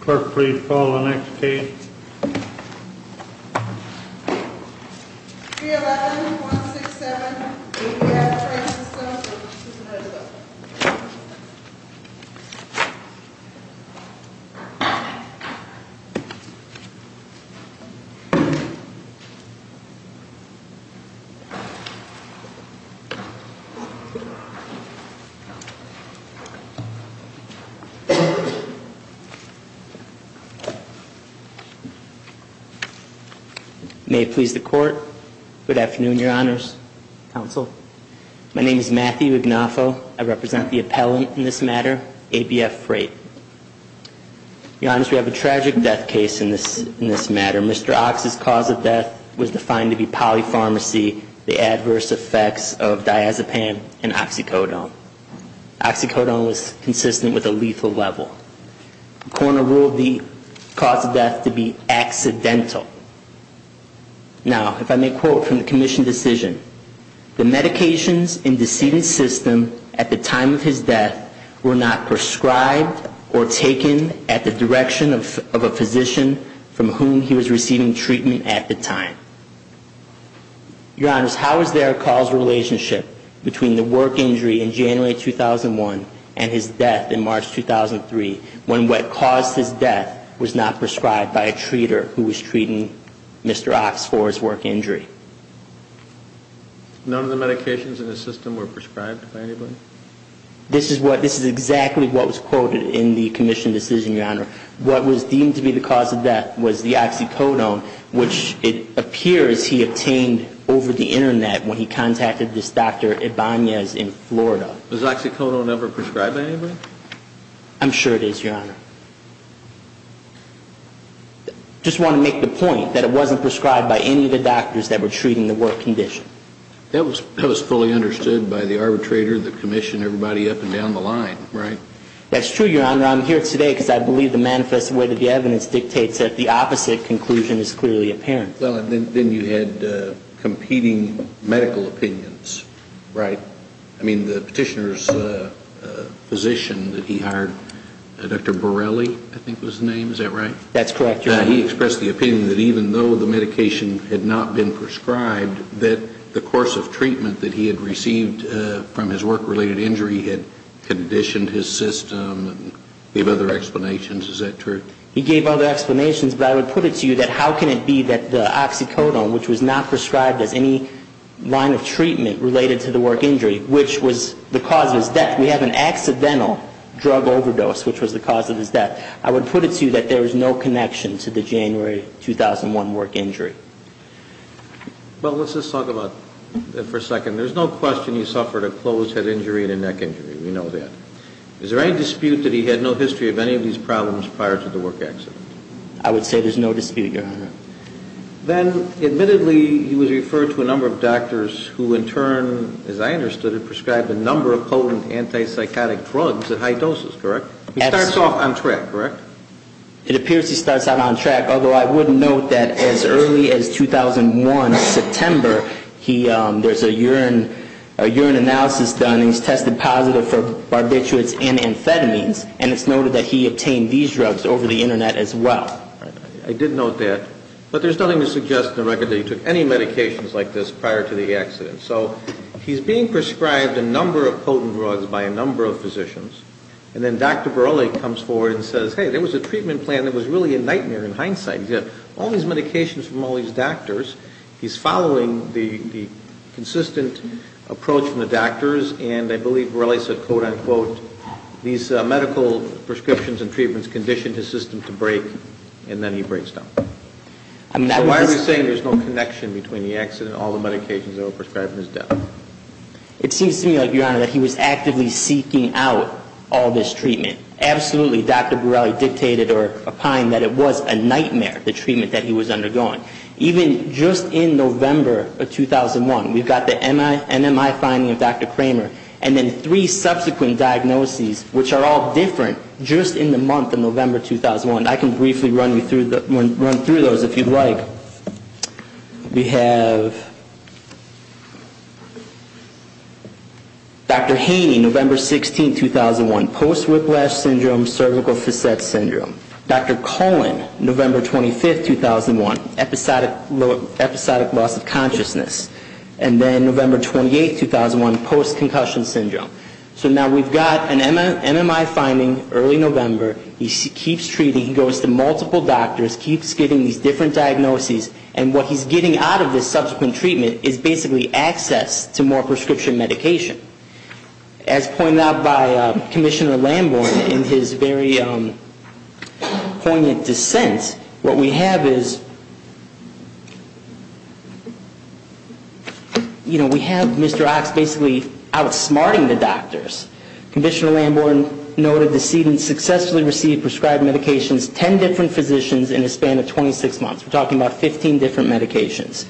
Clerk, please call the next case. 311-167-BF Freight Systems v. Supervisors May it please the Court. Good afternoon, Your Honors. Counsel. My name is Matthew Agnafo. I represent the appellant in this matter, ABF Freight. Your Honors, we have a tragic death case in this matter. Mr. Ox's cause of death was defined to be polypharmacy, the adverse effects of diazepam and oxycodone. Oxycodone was consistent with a lethal level. The coroner ruled the cause of death to be accidental. Now, if I may quote from the commission decision, the medications in the decedent's system at the time of his death were not prescribed or taken at the direction of a physician from whom he was receiving treatment at the time. Your Honors, how is there a causal relationship between the work injury in January 2001 and his death in March 2003 when what caused his death was not prescribed by a treater who was treating Mr. Ox for his work injury? None of the medications in the system were prescribed by anybody? This is exactly what was quoted in the commission decision, Your Honor. What was deemed to be the cause of death was the oxycodone, which it appears he obtained over the Internet when he contacted this Dr. Ibanez in Florida. Was oxycodone ever prescribed by anybody? I'm sure it is, Your Honor. I just want to make the point that it wasn't prescribed by any of the doctors that were treating the work condition. That was fully understood by the arbitrator, the commission, everybody up and down the line, right? That's true, Your Honor. I'm here today because I believe the manifest way that the evidence dictates that the opposite conclusion is clearly apparent. Well, then you had competing medical opinions, right? I mean, the petitioner's physician that he hired, Dr. Borrelli, I think was the name. Is that right? That's correct, Your Honor. He expressed the opinion that even though the medication had not been prescribed, that the course of treatment that he had received from his work-related injury had conditioned his system. He gave other explanations. Is that true? He gave other explanations, but I would put it to you that how can it be that the oxycodone, which was not prescribed as any line of treatment related to the work injury, which was the cause of his death. In fact, we have an accidental drug overdose, which was the cause of his death. I would put it to you that there is no connection to the January 2001 work injury. Well, let's just talk about that for a second. There's no question he suffered a closed head injury and a neck injury. We know that. Is there any dispute that he had no history of any of these problems prior to the work accident? I would say there's no dispute, Your Honor. Then, admittedly, he was referred to a number of doctors who in turn, as I understood it, prescribed a number of potent antipsychotic drugs at high doses, correct? He starts off on track, correct? It appears he starts out on track, although I would note that as early as 2001, September, there's a urine analysis done and he's tested positive for barbiturates and amphetamines, and it's noted that he obtained these drugs over the Internet as well. I did note that. But there's nothing to suggest in the record that he took any medications like this prior to the accident. So he's being prescribed a number of potent drugs by a number of physicians, and then Dr. Borrelli comes forward and says, hey, there was a treatment plan that was really a nightmare in hindsight. He's had all these medications from all these doctors. He's following the consistent approach from the doctors, and I believe Borrelli said, quote, unquote, these medical prescriptions and treatments conditioned his system to break, and then he breaks down. So why are we saying there's no connection between the accident and all the medications that were prescribed in his death? It seems to me, Your Honor, that he was actively seeking out all this treatment. Absolutely, Dr. Borrelli dictated or opined that it was a nightmare, the treatment that he was undergoing. Even just in November of 2001, we've got the NMI finding of Dr. Kramer, and then three subsequent diagnoses, which are all different, just in the month of November 2001. I can briefly run through those if you'd like. We have Dr. Haney, November 16, 2001, post-whiplash syndrome, cervical facet syndrome. Dr. Cullen, November 25, 2001, episodic loss of consciousness, and then November 28, 2001, post-concussion syndrome. So now we've got an NMI finding, early November, he keeps treating, he goes to multiple doctors, keeps getting these different diagnoses, and what he's getting out of this subsequent treatment is basically access to more prescription medication. As pointed out by Commissioner Lambourne in his very poignant dissent, what we have is, you know, we have Mr. Ox basically outsmarting the doctors. Commissioner Lambourne noted the student successfully received prescribed medications, 10 different physicians in a span of 26 months. We're talking about 15 different medications.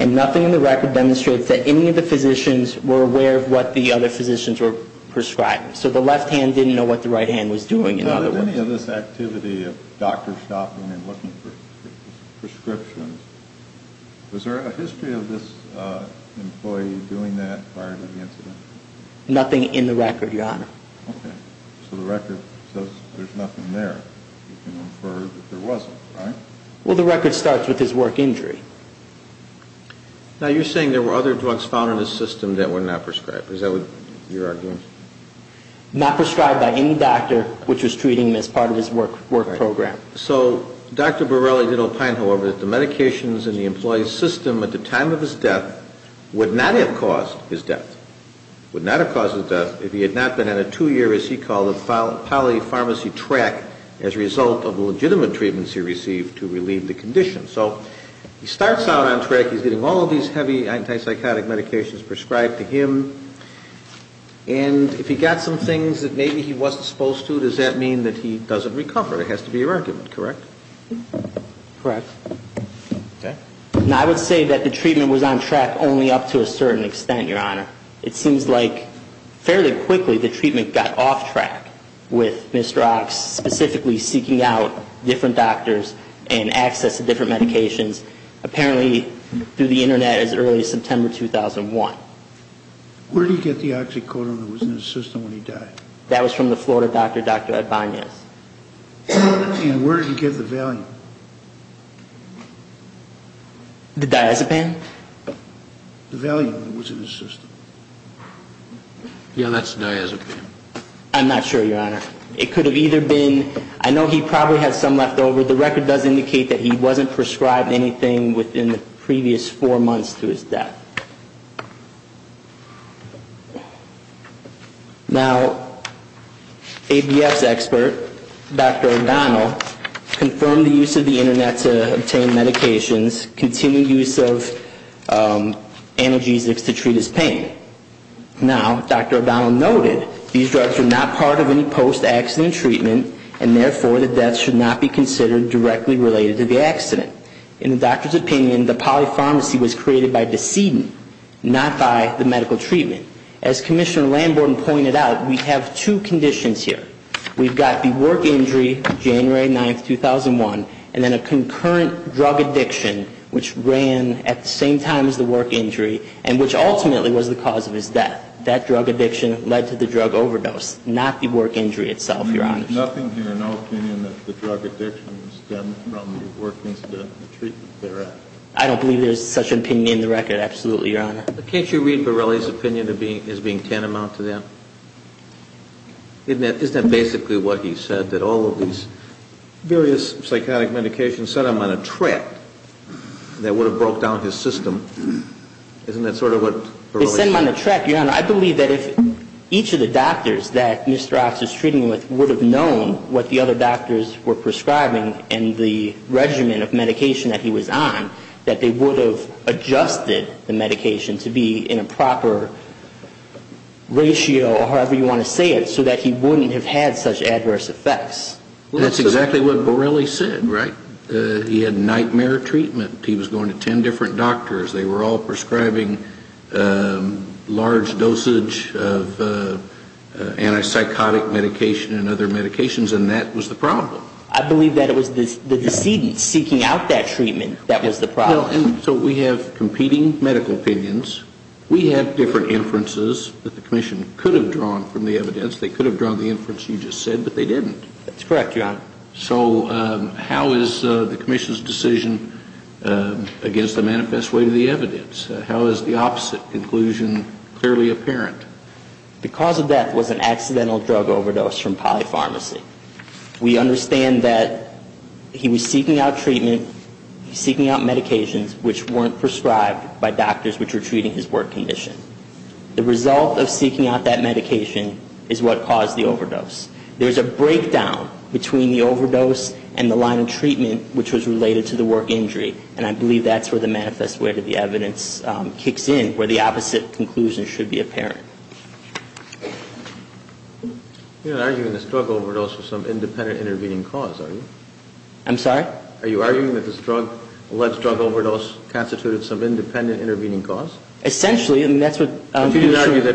And nothing in the record demonstrates that any of the physicians were aware of what the other physicians were prescribing. So the left hand didn't know what the right hand was doing, in other words. Nothing in the record, Your Honor. Okay. So the record says there's nothing there. You can infer that there wasn't, right? Well, the record starts with his work injury. Now, you're saying there were other drugs found in his system that were not prescribed. Is that what you're arguing? Not prescribed by any doctor which was treating him as part of his work program. So Dr. Borrelli did opine, however, that the medications in the employee's system at the time of his death would not have caused his death. Would not have caused his death if he had not been on a two-year, as he called it, polypharmacy track as a result of the legitimate treatments he received to relieve the condition. So he starts out on track. He's getting all of these heavy antipsychotic medications prescribed to him. And if he got some things that maybe he wasn't supposed to, does that mean that he doesn't recover? That has to be your argument, correct? Correct. Now, I would say that the treatment was on track only up to a certain extent, Your Honor. It seems like fairly quickly the treatment got off track with Mr. Ox specifically seeking out different doctors and access to different medications apparently through the Internet as early as September 2001. Where did he get the oxycodone that was in his system when he died? That was from the Florida doctor, Dr. Ed Banez. And where did he get the valium? The diazepam? The valium that was in his system. Yeah, that's diazepam. I'm not sure, Your Honor. It could have either been, I know he probably had some left over. The record does indicate that he wasn't prescribed anything within the previous four months to his death. Now, ABS expert, Dr. O'Donnell, confirmed the use of the Internet to obtain medications, continued use of analgesics to treat his pain. Now, Dr. O'Donnell noted these drugs were not part of any post-accident treatment, and therefore the death should not be considered directly related to the accident. In the doctor's opinion, the polypharmacy was created by decedent, not by the medical treatment. As Commissioner Lamborton pointed out, we have two conditions here. We've got the work injury, January 9, 2001, and then a concurrent drug addiction, which ran at the same time as the work injury, and which ultimately was the cause of his death. That drug addiction led to the drug overdose, not the work injury itself, Your Honor. There's nothing here in our opinion that the drug addiction stemmed from the work incident and the treatment thereof. I don't believe there's such an opinion in the record, absolutely, Your Honor. Can't you read Borrelli's opinion as being tantamount to that? Isn't that basically what he said, that all of these various psychotic medications set him on a trap that would have broke down his system? Isn't that sort of what Borrelli said? They set him on a trap, Your Honor. I believe that if each of the doctors that Mr. Ox is treating with would have known what the other doctors were prescribing and the regimen of medication that he was on, that they would have adjusted the medication to be in a proper ratio, or however you want to say it, so that he wouldn't have had such adverse effects. That's exactly what Borrelli said, right? He had nightmare treatment. He was going to 10 different doctors. They were all prescribing large dosage of antipsychotic medication and other medications, and that was the problem. I believe that it was the decedent seeking out that treatment that was the problem. Well, and so we have competing medical opinions. We have different inferences that the Commission could have drawn from the evidence. They could have drawn the inference you just said, but they didn't. That's correct, Your Honor. So how is the Commission's decision against the manifest way to the evidence? How is the opposite conclusion clearly apparent? The cause of death was an accidental drug overdose from Poly Pharmacy. We understand that he was seeking out treatment, seeking out medications which weren't prescribed by doctors which were treating his work condition. The result of seeking out that medication is what caused the overdose. There's a breakdown between the overdose and the line of treatment which was related to the work injury, and I believe that's where the manifest way to the evidence kicks in, where the opposite conclusion should be apparent. You're not arguing this drug overdose was some independent intervening cause, are you? I'm sorry? Are you arguing that this drug, alleged drug overdose, constituted some independent intervening cause? Essentially, and that's what Commissioner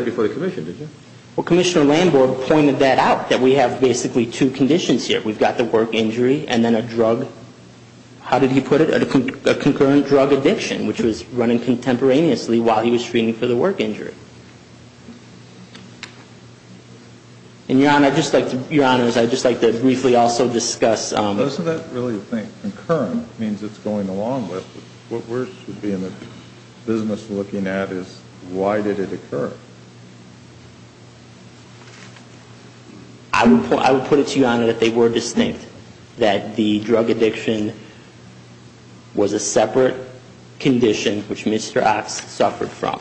Landborg pointed that out, that we have basically two conditions here. We've got the work injury and then a drug, how did he put it, a concurrent drug addiction, which was running contemporaneously while he was treating for the work injury. And, Your Honor, I'd just like to briefly also discuss Doesn't that really think concurrent means it's going along with, what we should be in the business looking at is why did it occur? I would put it to you, Your Honor, that they were distinct, that the drug addiction was a separate condition which Mr. Ox suffered from.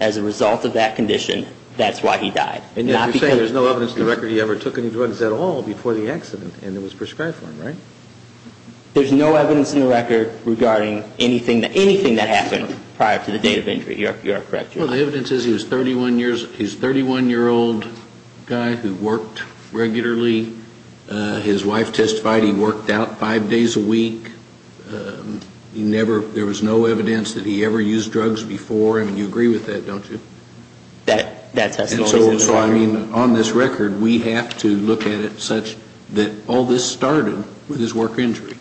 As a result of that condition, that's why he died. You're saying there's no evidence in the record he ever took any drugs at all before the accident and it was prescribed for him, right? There's no evidence in the record regarding anything that happened prior to the date of injury. You are correct, Your Honor. Well, the evidence is he was a 31-year-old guy who worked regularly. His wife testified he worked out five days a week. There was no evidence that he ever used drugs before. I mean, you agree with that, don't you? So, I mean, on this record, we have to look at it such that all this started with his work injury.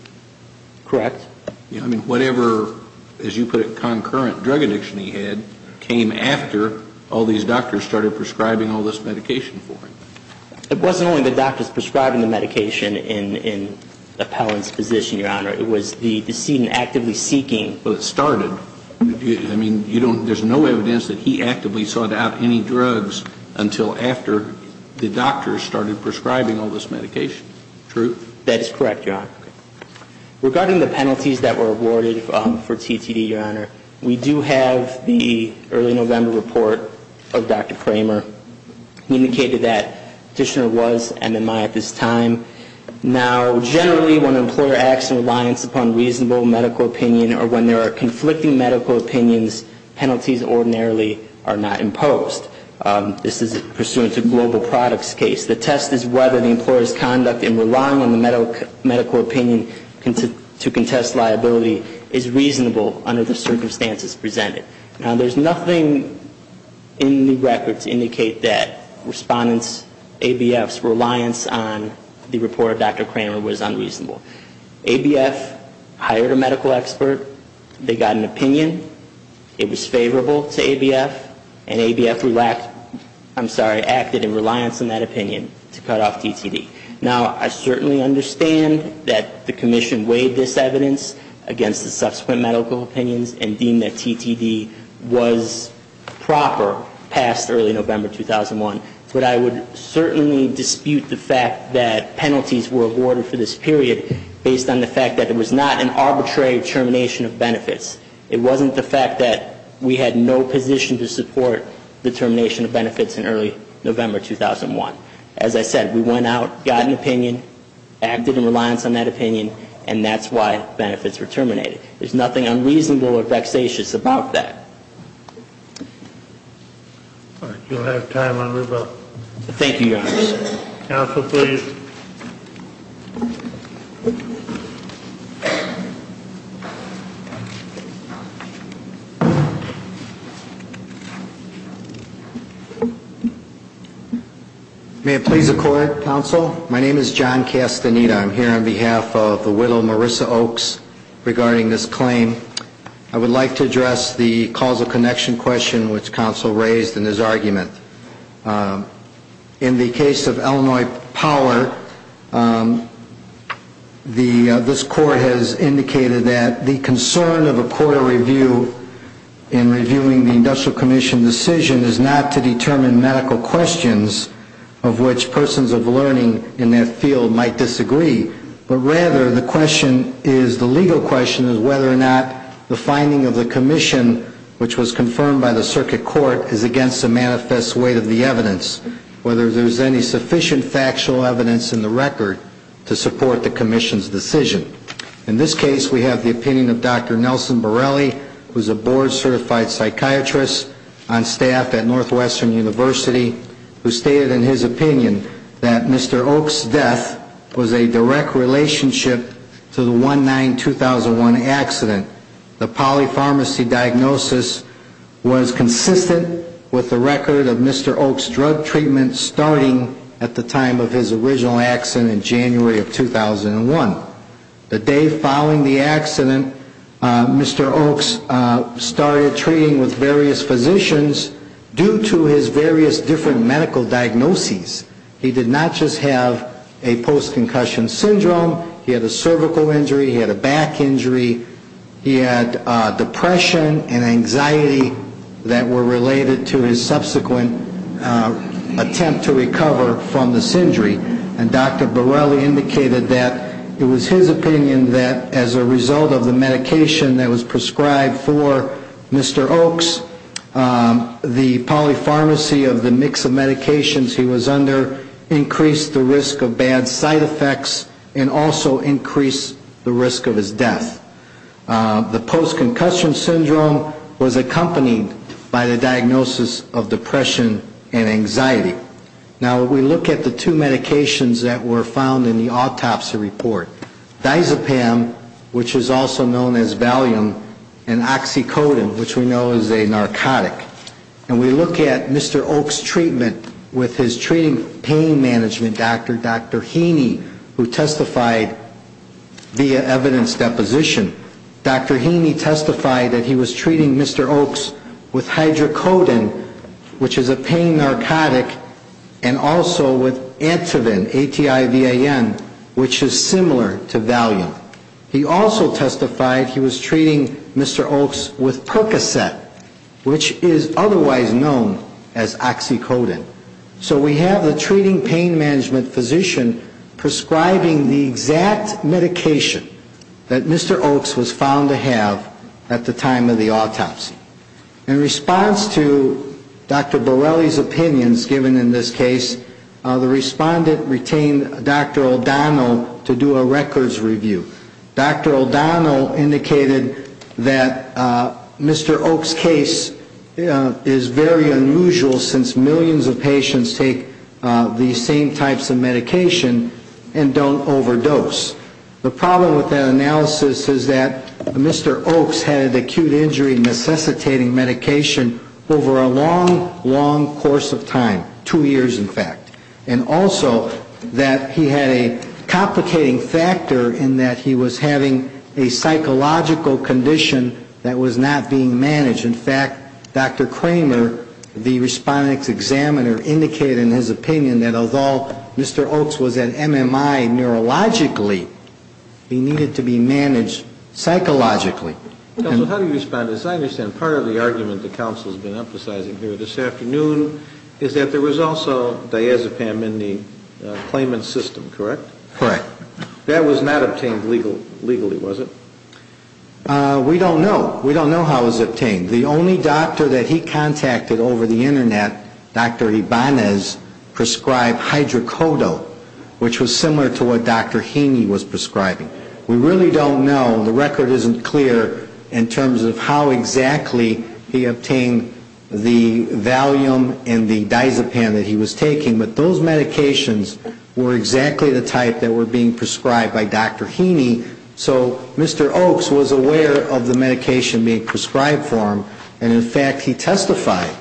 Correct. I mean, whatever, as you put it, concurrent drug addiction he had came after all these doctors started prescribing all this medication for him. It wasn't only the doctors prescribing the medication in Appellant's position, Your Honor. It was the decedent actively seeking. Well, it started. I mean, there's no evidence that he actively sought out any drugs until after the doctors started prescribing all this medication. True? That is correct, Your Honor. Regarding the penalties that were awarded for TTD, Your Honor, we do have the early November report of Dr. Kramer. He indicated that the petitioner was MMI at this time. Now, generally, when an employer acts in reliance upon reasonable medical opinion or when there are conflicting medical opinions, penalties ordinarily are not imposed. This is pursuant to global products case. The test is whether the employer's conduct in relying on the medical opinion to contest liability is reasonable under the circumstances presented. Now, there's nothing in the records to indicate that respondents' ABF's reliance on the report of Dr. Kramer was unreasonable. ABF hired a medical expert. They got an opinion. It was favorable to ABF. And ABF acted in reliance on that opinion to cut off TTD. Now, I certainly understand that the commission weighed this evidence against the subsequent medical opinions and deemed that TTD was proper past early November 2001. But I would certainly dispute the fact that penalties were awarded for this period based on the fact that it was not an arbitrary termination of benefits. It wasn't the fact that we had no position to support the termination of benefits in early November 2001. As I said, we went out, got an opinion, acted in reliance on that opinion, and that's why benefits were terminated. There's nothing unreasonable or vexatious about that. All right, you'll have time on rebuttal. Thank you, Your Honor. Counsel, please. May it please the Court, Counsel? My name is John Castaneda. I'm here on behalf of the widow, Marissa Oaks, regarding this claim. I would like to address the causal connection question which Counsel raised in his argument. In the case of Illinois Power, this Court has indicated that the concern of a court of review in reviewing the Industrial Commission decision is not to determine medical questions of which persons of learning in that field might disagree, but rather the legal question is whether or not the finding of the commission, which was confirmed by the circuit court, is against the manifest weight of the evidence, whether there's any sufficient factual evidence in the record to support the commission's decision. In this case, we have the opinion of Dr. Nelson Borelli, who's a board-certified psychiatrist, on staff at Northwestern University, who stated in his opinion that Mr. Oaks' death was a direct relationship to the 1-9-2001 accident. The polypharmacy diagnosis was consistent with the record of Mr. Oaks' drug treatment starting at the time of his original accident in January of 2001. The day following the accident, Mr. Oaks started treating with various physicians due to his various different medical diagnoses. He did not just have a post-concussion syndrome. He had a cervical injury. He had a back injury. He had depression and anxiety that were related to his subsequent attempt to recover from this injury. And Dr. Borelli indicated that it was his opinion that as a result of the medication that was prescribed for Mr. Oaks, the polypharmacy of the mix of medications he was under increased the risk of bad side effects and also increased the risk of his death. The post-concussion syndrome was accompanied by the diagnosis of depression and anxiety. Now, we look at the two medications that were found in the autopsy report. Dizepam, which is also known as Valium, and Oxycodone, which we know is a narcotic. And we look at Mr. Oaks' treatment with his treating pain management doctor, Dr. Heaney, who testified via evidence deposition. Dr. Heaney testified that he was treating Mr. Oaks with Hydrocodone, which is a pain narcotic, and also with Ativan, A-T-I-V-A-N, which is similar to Valium. He also testified he was treating Mr. Oaks with Percocet, which is otherwise known as Oxycodone. So we have the treating pain management physician prescribing the exact medication that Mr. Oaks was found to have at the time of the autopsy. In response to Dr. Borrelli's opinions given in this case, the respondent retained Dr. O'Donnell to do a records review. Dr. O'Donnell indicated that Mr. Oaks' case is very unusual since millions of patients take these same types of medication and don't overdose. The problem with that analysis is that Mr. Oaks had an acute injury necessitating medication over a long, long course of time, two years in fact. And also that he had a complicating factor in that he was having a psychological condition that was not being managed. In fact, Dr. Kramer, the respondent's examiner, indicated in his opinion that although Mr. Oaks was at MMI neurologically, he needed to be managed psychologically. How do you respond to this? I understand part of the argument that counsel has been emphasizing here this afternoon is that there was also diazepam in the claimant's system, correct? Correct. That was not obtained legally, was it? We don't know. We don't know how it was obtained. The only doctor that he contacted over the Internet, Dr. Ibanez, prescribed hydrocodone, which was similar to what Dr. Heaney was prescribing. We really don't know. The record isn't clear in terms of how exactly he obtained the Valium and the diazepam that he was taking. But those medications were exactly the type that were being prescribed by Dr. Heaney. So Mr. Oaks was aware of the medication being prescribed for him. And in fact, he testified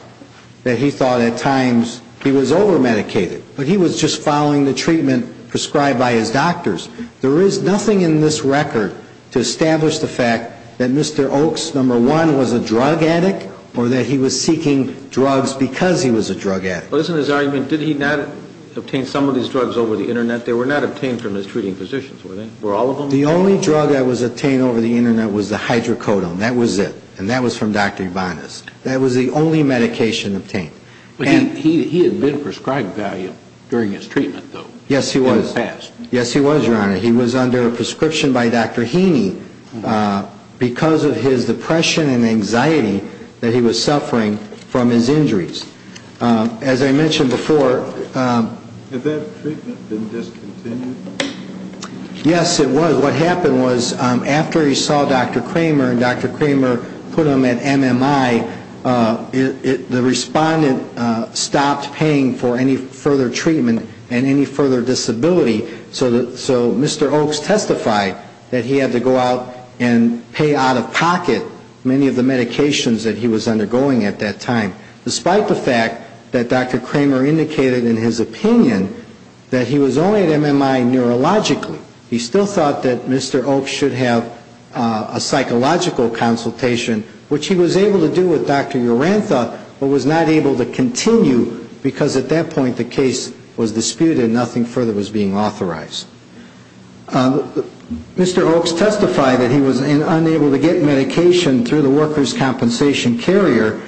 that he thought at times he was over-medicated. But he was just following the treatment prescribed by his doctors. There is nothing in this record to establish the fact that Mr. Oaks, number one, was a drug addict or that he was seeking drugs because he was a drug addict. But isn't his argument, did he not obtain some of these drugs over the Internet? They were not obtained from his treating physicians, were they? The only drug that was obtained over the Internet was the hydrocodone. That was it. And that was from Dr. Ibanez. That was the only medication obtained. He had been prescribed Valium during his treatment, though, in the past. Yes, he was, Your Honor. He was under a prescription by Dr. Heaney because of his depression and anxiety that he was suffering from his injuries. As I mentioned before... Had that treatment been discontinued? Yes, it was. What happened was, after he saw Dr. Kramer and Dr. Kramer put him at MMI, the respondent stopped paying for any further treatment and any further disability. So Mr. Oaks testified that he had to go out and pay out-of-pocket many of the medications that he was undergoing at that time. Despite the fact that Dr. Kramer indicated in his opinion that he was only at MMI neurologically. He still thought that Mr. Oaks should have a psychological consultation, which he was able to do with Dr. Urantha, but was not able to continue because at that point the case was disputed and nothing further was being authorized. Mr. Oaks testified that he was unable to get medication through the workers' compensation carrier,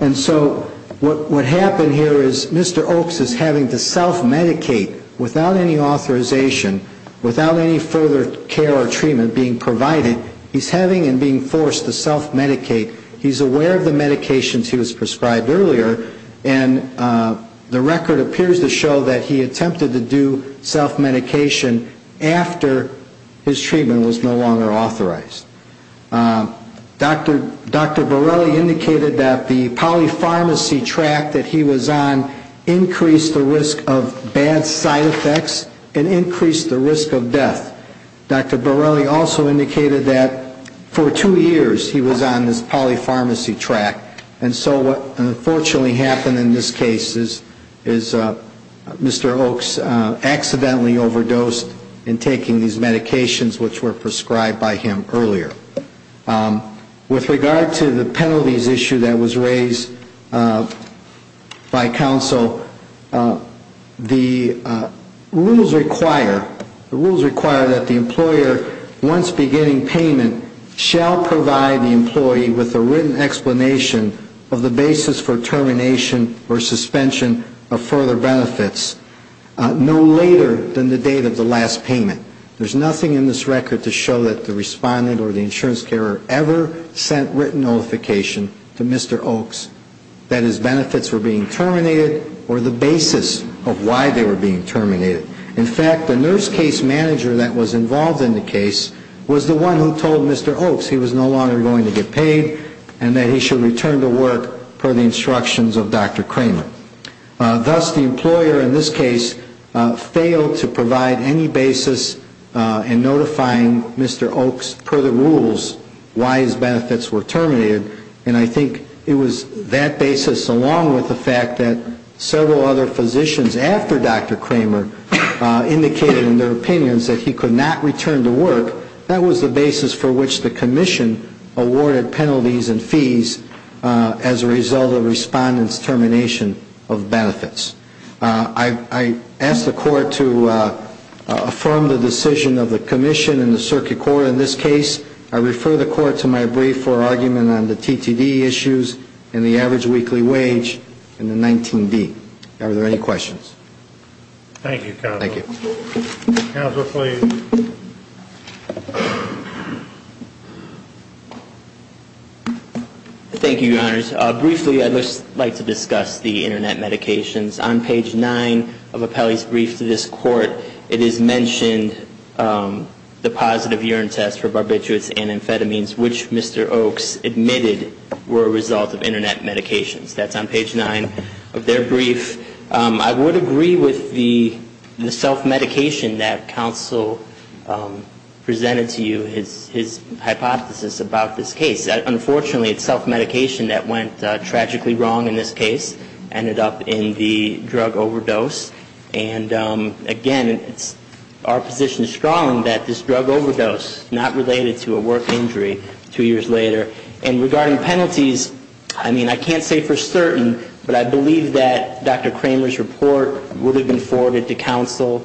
and so what happened here is Mr. Oaks is having to self-medicate without any authorization, without any further care or treatment being provided. He's having and being forced to self-medicate. He's aware of the medications he was prescribed earlier, and the record appears to show that he attempted to do self-medication after his treatment was no longer authorized. Dr. Borrelli indicated that the polypharmacy track that he was on increased the risk of bad side effects and increased the risk of death. Dr. Borrelli also indicated that for two years he was on this polypharmacy track, and so what unfortunately happened in this case is Mr. Oaks accidentally overdosed in taking these medications which were prescribed by him earlier. With regard to the penalties issue that was raised by counsel, the rules require that the employer, once beginning payment, shall provide the employee with a written explanation of the basis for termination or suspension of further benefits no later than the date of the last payment. There's nothing in this record to show that the respondent or the insurance carer ever sent written notification to Mr. Oaks that his benefits were being terminated or the basis of why they were being terminated. In fact, the nurse case manager that was involved in the case was the one who told Mr. Oaks he was no longer going to get paid and that he should return to work per the instructions of Dr. Cramer. Thus, the employer in this case failed to provide any basis in notifying Mr. Oaks per the rules why his benefits were terminated, and I think it was that basis along with the fact that several other physicians after Dr. Cramer indicated in their opinions that he could not return to work. That was the basis for which the commission awarded penalties and fees as a result of the respondent's termination. I ask the court to affirm the decision of the commission and the circuit court in this case. I refer the court to my brief for argument on the TTD issues and the average weekly wage and the 19D. Are there any questions? Thank you, counsel. Thank you, Your Honors. Briefly, I'd like to discuss the internet medications. On page 9 of Apelli's brief to this court, it is mentioned the positive urine test for barbiturates and amphetamines, which Mr. Oaks admitted were a result of internet medications. That's on page 9 of their brief. I would agree with the self-medication that counsel presented to you, his hypothesis about this case. Unfortunately, it's self-medication that went tragically wrong in this case, ended up in the drug overdose, and again, our position is strong that this drug overdose, not related to a work injury, was a result of a drug overdose that occurred two years later. And regarding penalties, I mean, I can't say for certain, but I believe that Dr. Kramer's report would have been forwarded to counsel,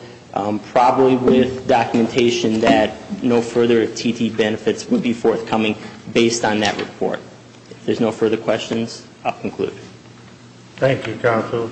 probably with documentation that no further TTD benefits would be forthcoming based on that report. If there's no further questions, I'll conclude. Thank you, counsel.